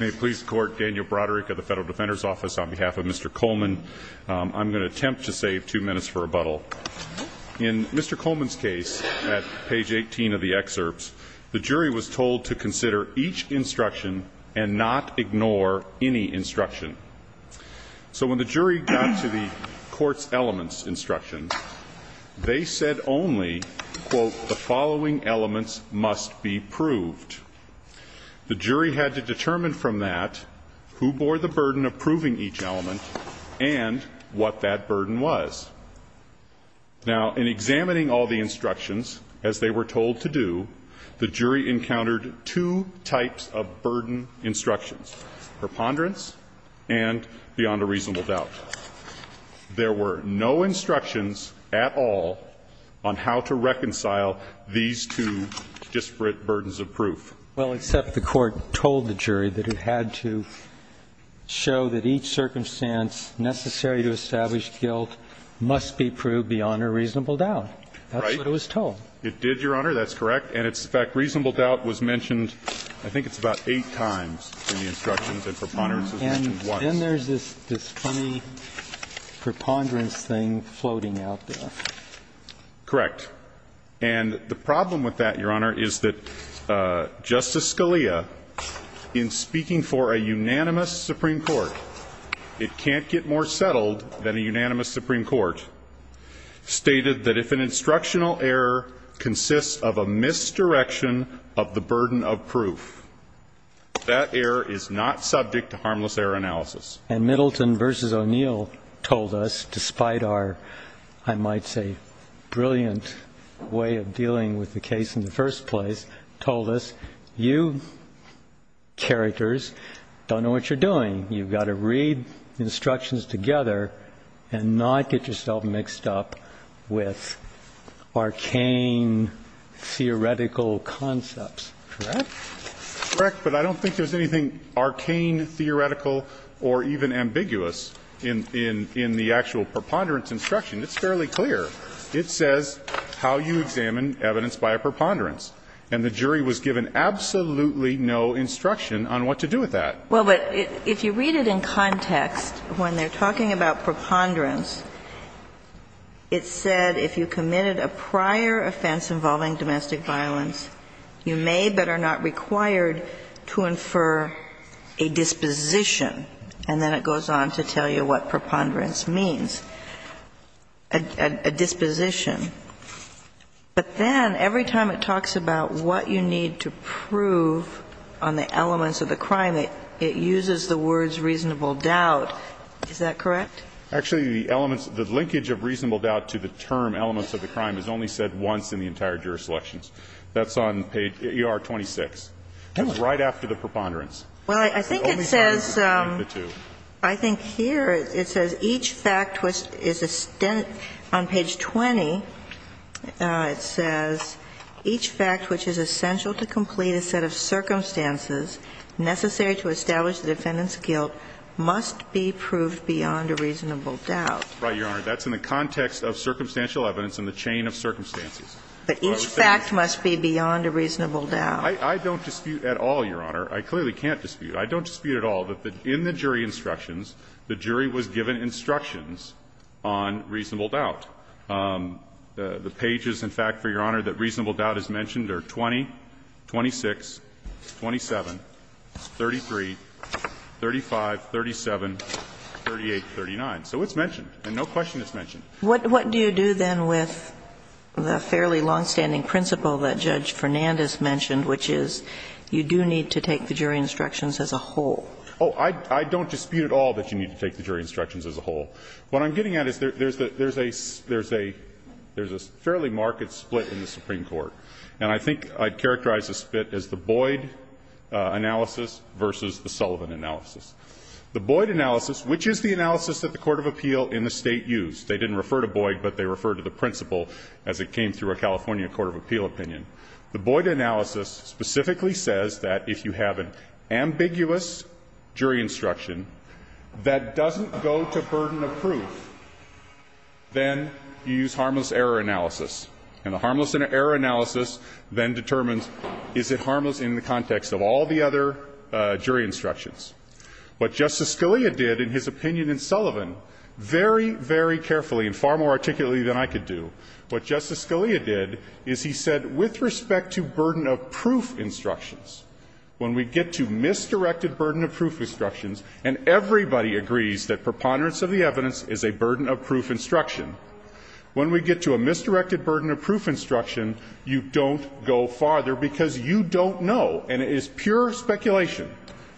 May it please the Court, Daniel Broderick of the Federal Defender's Office, on behalf of Mr. Coleman, I'm going to attempt to save two minutes for rebuttal. In Mr. Coleman's case, at page 18 of the excerpts, the jury was told to consider each instruction and not ignore any instruction. So when the jury got to the court's elements instruction, they said only, quote, the following elements must be proved. The jury had to determine from that who bore the burden of proving each element and what that burden was. Now, in examining all the instructions, as they were told to do, the jury encountered two types of burden instructions, preponderance and beyond a reasonable doubt. There were no instructions at all on how to reconcile these two disparate burdens of proof. Well, except the Court told the jury that it had to show that each circumstance necessary to establish guilt must be proved beyond a reasonable doubt. That's what it was told. It did, Your Honor, that's correct. And it's the fact reasonable doubt was mentioned, I think it's about eight times in the instructions and preponderance was mentioned once. Then there's this funny preponderance thing floating out there. Correct. And the problem with that, Your Honor, is that Justice Scalia, in speaking for a unanimous Supreme Court, it can't get more settled than a unanimous Supreme Court, stated that if an instructional error consists of a misdirection of the burden of proof, that error is not subject to harmless error analysis. And Middleton v. O'Neill told us, despite our, I might say, brilliant way of dealing with the case in the first place, told us, you characters don't know what you're doing. You've got to read instructions together and not get yourself mixed up with arcane theoretical concepts. Correct. Correct, but I don't think there's anything arcane, theoretical, or even ambiguous in the actual preponderance instruction. It's fairly clear. It says how you examine evidence by a preponderance. And the jury was given absolutely no instruction on what to do with that. Well, but if you read it in context, when they're talking about preponderance, it said if you committed a prior offense involving domestic violence, you may better know that you're not required to infer a disposition. And then it goes on to tell you what preponderance means, a disposition. But then, every time it talks about what you need to prove on the elements of the crime, it uses the words reasonable doubt. Is that correct? Actually, the elements of the linkage of reasonable doubt to the term elements of the crime is only said once in the entire jury selections. That's on page ER-26. It's right after the preponderance. Well, I think it says the two. I think here it says each fact which is a stint on page 20, it says, each fact which is essential to complete a set of circumstances necessary to establish the defendant's guilt must be proved beyond a reasonable doubt. Right, Your Honor. That's in the context of circumstantial evidence in the chain of circumstances. But each fact must be beyond a reasonable doubt. I don't dispute at all, Your Honor. I clearly can't dispute. I don't dispute at all that in the jury instructions, the jury was given instructions on reasonable doubt. The pages, in fact, for Your Honor, that reasonable doubt is mentioned are 20, 26, 27, 33, 35, 37, 38, 39. So it's mentioned, and no question it's mentioned. What do you do, then, with the fairly longstanding principle that Judge Fernandes mentioned, which is you do need to take the jury instructions as a whole? Oh, I don't dispute at all that you need to take the jury instructions as a whole. What I'm getting at is there's a fairly marked split in the Supreme Court. And I think I'd characterize the split as the Boyd analysis versus the Sullivan analysis. The Boyd analysis, which is the analysis that the court of appeal in the State used. They didn't refer to Boyd, but they referred to the principle as it came through a California court of appeal opinion. The Boyd analysis specifically says that if you have an ambiguous jury instruction that doesn't go to burden of proof, then you use harmless error analysis. And the harmless error analysis then determines, is it harmless in the context of all the other jury instructions? What Justice Scalia did in his opinion in Sullivan, very, very carefully and far more articulately than I could do, what Justice Scalia did is he said, with respect to burden of proof instructions, when we get to misdirected burden of proof instructions and everybody agrees that preponderance of the evidence is a burden of proof instruction, when we get to a misdirected burden of proof instruction, you don't go farther, because you don't know. And it is pure speculation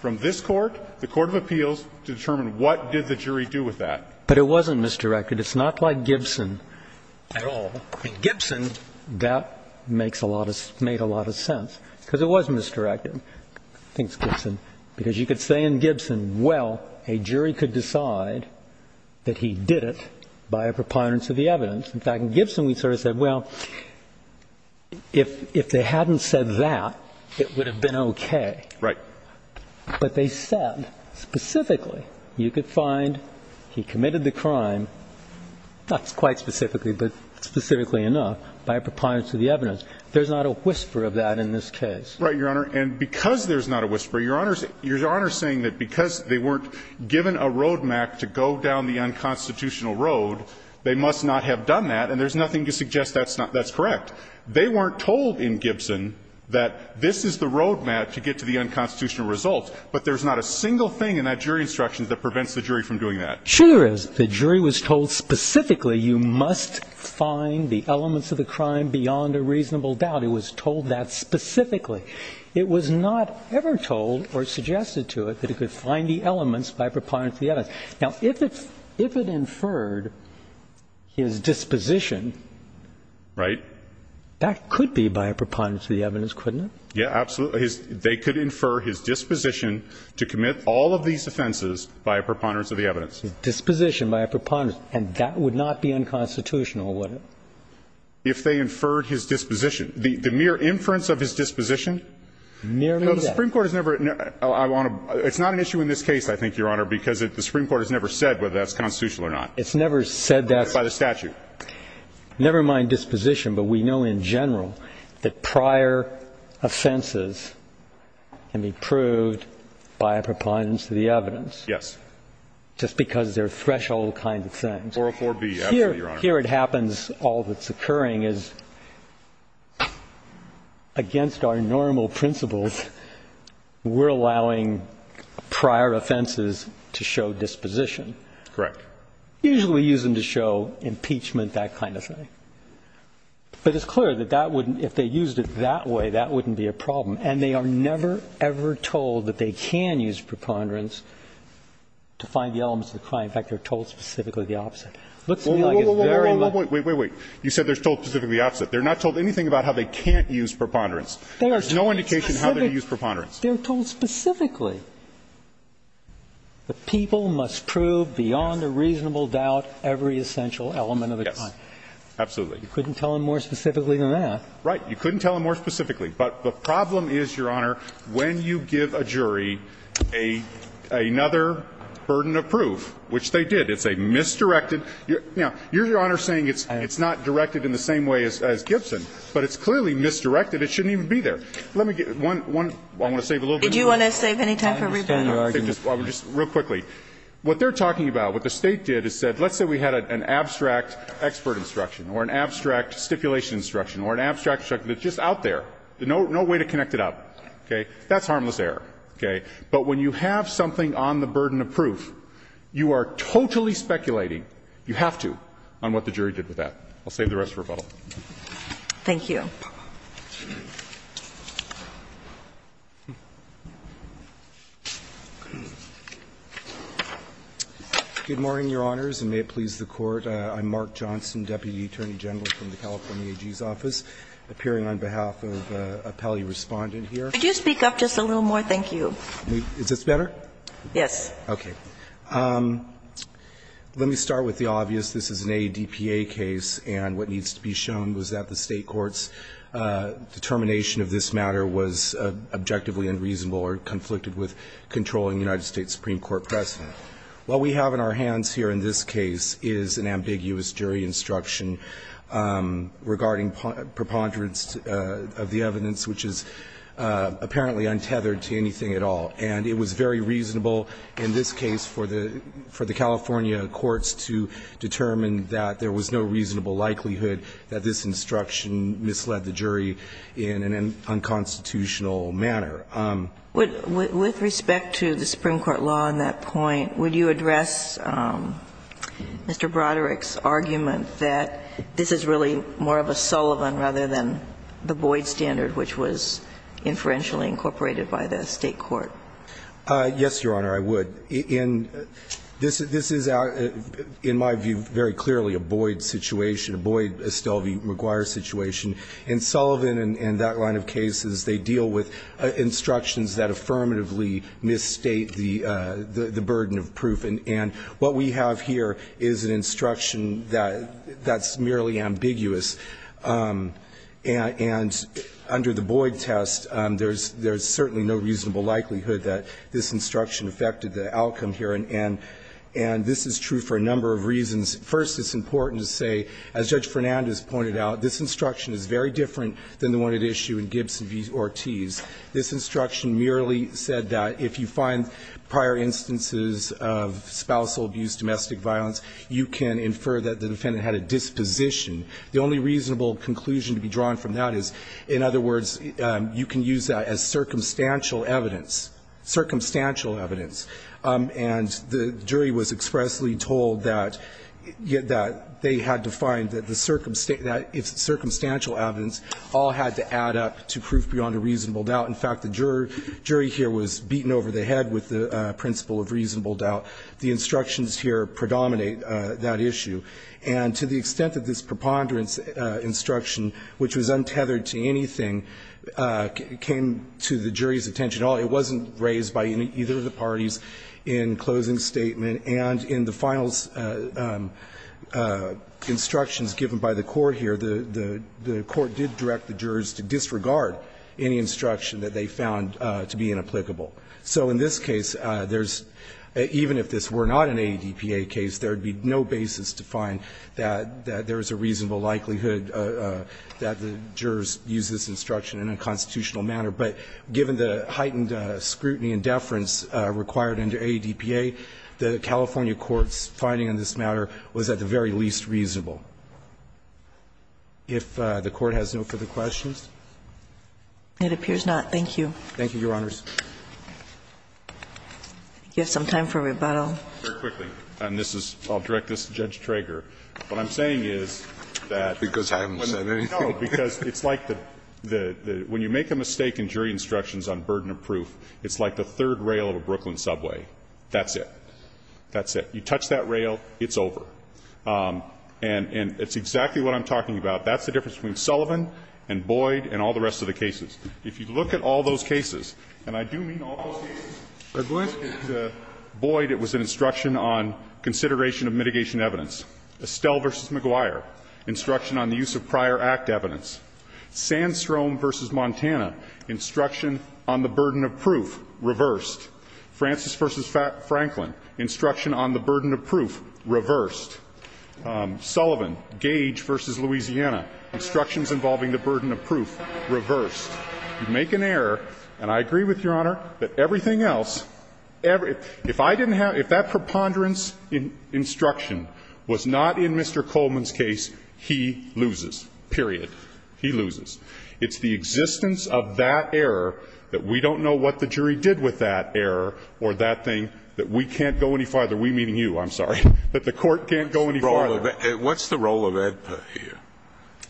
from this Court, the court of appeals, to determine what did the jury do with that. But it wasn't misdirected. It's not like Gibson at all. In Gibson, that makes a lot of sense, because it was misdirected, I think it's Gibson. Because you could say in Gibson, well, a jury could decide that he did it by a preponderance of the evidence. In fact, in Gibson, we sort of said, well, if they hadn't said that, it would have been okay. Right. But they said specifically, you could find he committed the crime, not quite specifically, but specifically enough, by a preponderance of the evidence. There's not a whisper of that in this case. Right, Your Honor. And because there's not a whisper, Your Honor's saying that because they weren't given a road map to go down the unconstitutional road, they must not have done that, and there's nothing to suggest that's correct. They weren't told in Gibson that this is the road map to get to the unconstitutional results, but there's not a single thing in that jury instruction that prevents the jury from doing that. Sure, there is. The jury was told specifically you must find the elements of the crime beyond a reasonable doubt. It was told that specifically. It was not ever told or suggested to it that it could find the elements by a preponderance of the evidence. Now, if it inferred his disposition, that could be by a preponderance of the evidence, couldn't it? Yeah, absolutely. They could infer his disposition to commit all of these offenses by a preponderance of the evidence. His disposition by a preponderance, and that would not be unconstitutional, would it? If they inferred his disposition. The mere inference of his disposition? Merely that. The Supreme Court has never said whether that's constitutional or not. It's never said that. By the statute. Never mind disposition, but we know in general that prior offenses can be proved by a preponderance of the evidence. Yes. Just because they're threshold kind of things. 404B, absolutely, Your Honor. Here it happens, all that's occurring is against our normal principles, we're not going to use preponderance of the evidence to show disposition. Correct. Usually we use them to show impeachment, that kind of thing. But it's clear that that wouldn't, if they used it that way, that wouldn't be a problem. And they are never, ever told that they can use preponderance to find the elements of the crime. In fact, they're told specifically the opposite. It looks to me like it's very much. Wait, wait, wait, wait, wait, you said they're told specifically the opposite. They're not told anything about how they can't use preponderance. There's no indication how they can use preponderance. They're told specifically. The people must prove beyond a reasonable doubt every essential element of the crime. Yes, absolutely. You couldn't tell them more specifically than that. Right. You couldn't tell them more specifically. But the problem is, Your Honor, when you give a jury another burden of proof, which they did, it's a misdirected you know, you're, Your Honor, saying it's not directed in the same way as Gibson, but it's clearly misdirected. It shouldn't even be there. Let me get one, one, I want to save a little bit of time. Did you want to save any time for rebuttal? I understand your argument. Just real quickly. What they're talking about, what the State did is said, let's say we had an abstract expert instruction or an abstract stipulation instruction or an abstract instruction that's just out there, no way to connect it up, okay, that's harmless error, okay? But when you have something on the burden of proof, you are totally speculating, you have to, on what the jury did with that. I'll save the rest for rebuttal. Thank you. Good morning, Your Honors, and may it please the Court. I'm Mark Johnson, Deputy Attorney General from the California AG's office, appearing on behalf of a pally respondent here. Could you speak up just a little more? Thank you. Is this better? Yes. Okay. Let me start with the obvious. This is an ADPA case, and what needs to be shown was that the State court's determination of this matter was objectively unreasonable or conflicted with controlling the United States Supreme Court precedent. What we have in our hands here in this case is an ambiguous jury instruction regarding preponderance of the evidence, which is apparently untethered to anything at all. And it was very reasonable in this case for the California courts to determine that there was no reasonable likelihood that this instruction misled the jury in an unconstitutional manner. With respect to the Supreme Court law on that point, would you address Mr. Broderick's argument that this is really more of a Sullivan rather than the Boyd standard, which was inferentially incorporated by the State court? Yes, Your Honor, I would. In this is, in my view, very clearly a Boyd situation, a Boyd-Estelvi-McGuire situation. In Sullivan and that line of cases, they deal with instructions that affirmatively misstate the burden of proof. And what we have here is an instruction that's merely ambiguous. And under the Boyd test, there's certainly no reasonable likelihood that this instruction affected the outcome here. And this is true for a number of reasons. First, it's important to say, as Judge Fernandez pointed out, this instruction is very different than the one at issue in Gibson v. Ortiz. This instruction merely said that if you find prior instances of spousal abuse, domestic violence, you can infer that the defendant had a disposition. The only reasonable conclusion to be drawn from that is, in other words, you can use that as circumstantial evidence, circumstantial evidence. And the jury was expressly told that they had to find that the circumstantial evidence all had to add up to proof beyond a reasonable doubt. In fact, the jury here was beaten over the head with the principle of reasonable doubt. The instructions here predominate that issue. And to the extent that this preponderance instruction, which was untethered to anything, came to the jury's attention at all, it wasn't raised by either of the parties in closing statement. And in the final instructions given by the Court here, the Court did direct the jurors to disregard any instruction that they found to be inapplicable. So in this case, there's – even if this were not an ADPA case, there would be no basis to find that there is a reasonable likelihood that the jurors use this instruction in a constitutional manner. But given the heightened scrutiny and deference required under ADPA, the California court's finding on this matter was at the very least reasonable. If the Court has no further questions. It appears not. Thank you. Thank you, Your Honors. We have some time for rebuttal. Very quickly, and this is – I'll direct this to Judge Trager. What I'm saying is that when the – no, because it's like the – when you make a mistake in jury instructions on burden of proof, it's like the third rail of a Brooklyn subway. That's it. That's it. You touch that rail, it's over. And it's exactly what I'm talking about. That's the difference between Sullivan and Boyd and all the rest of the cases. If you look at all those cases, and I do mean all those cases, Boyd, it was an instruction on consideration of mitigation evidence. Estelle v. McGuire, instruction on the use of prior act evidence. Sandstrom v. Montana, instruction on the burden of proof, reversed. Francis v. Franklin, instruction on the burden of proof, reversed. Sullivan, Gage v. Louisiana, instructions involving the burden of proof, reversed. You make an error, and I agree with Your Honor that everything else – if I didn't – if that preponderance instruction was not in Mr. Coleman's case, he loses, period. He loses. It's the existence of that error that we don't know what the jury did with that error or that thing that we can't go any farther – we meaning you, I'm sorry – that the court can't go any farther. What's the role of – what's the role of AEDPA here?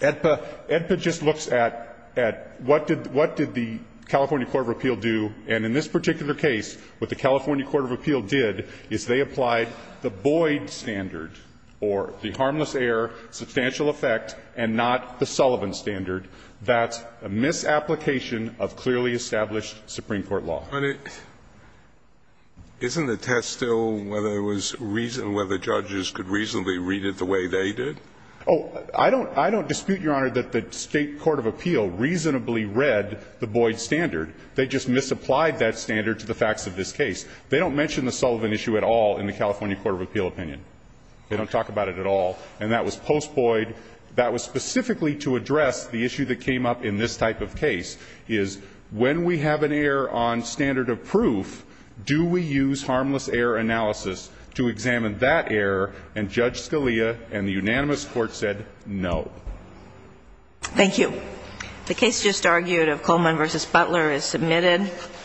AEDPA – AEDPA just looks at – at what did – what did the California Court of Appeal do, and in this particular case, what the California Court of Appeal did is they applied the Boyd standard, or the harmless error, substantial effect, and not the Sullivan standard. That's a misapplication of clearly established Supreme Court law. Isn't the test still whether it was – whether judges could reasonably read it the way they did? Oh, I don't – I don't dispute, Your Honor, that the State Court of Appeal reasonably read the Boyd standard. They just misapplied that standard to the facts of this case. They don't mention the Sullivan issue at all in the California Court of Appeal opinion. They don't talk about it at all. And that was post Boyd. That was specifically to address the issue that came up in this type of case, is when we have an error on standard of proof, do we use harmless error analysis to examine that error? And Judge Scalia and the unanimous court said no. Thank you. The case just argued of Coleman v. Butler is submitted.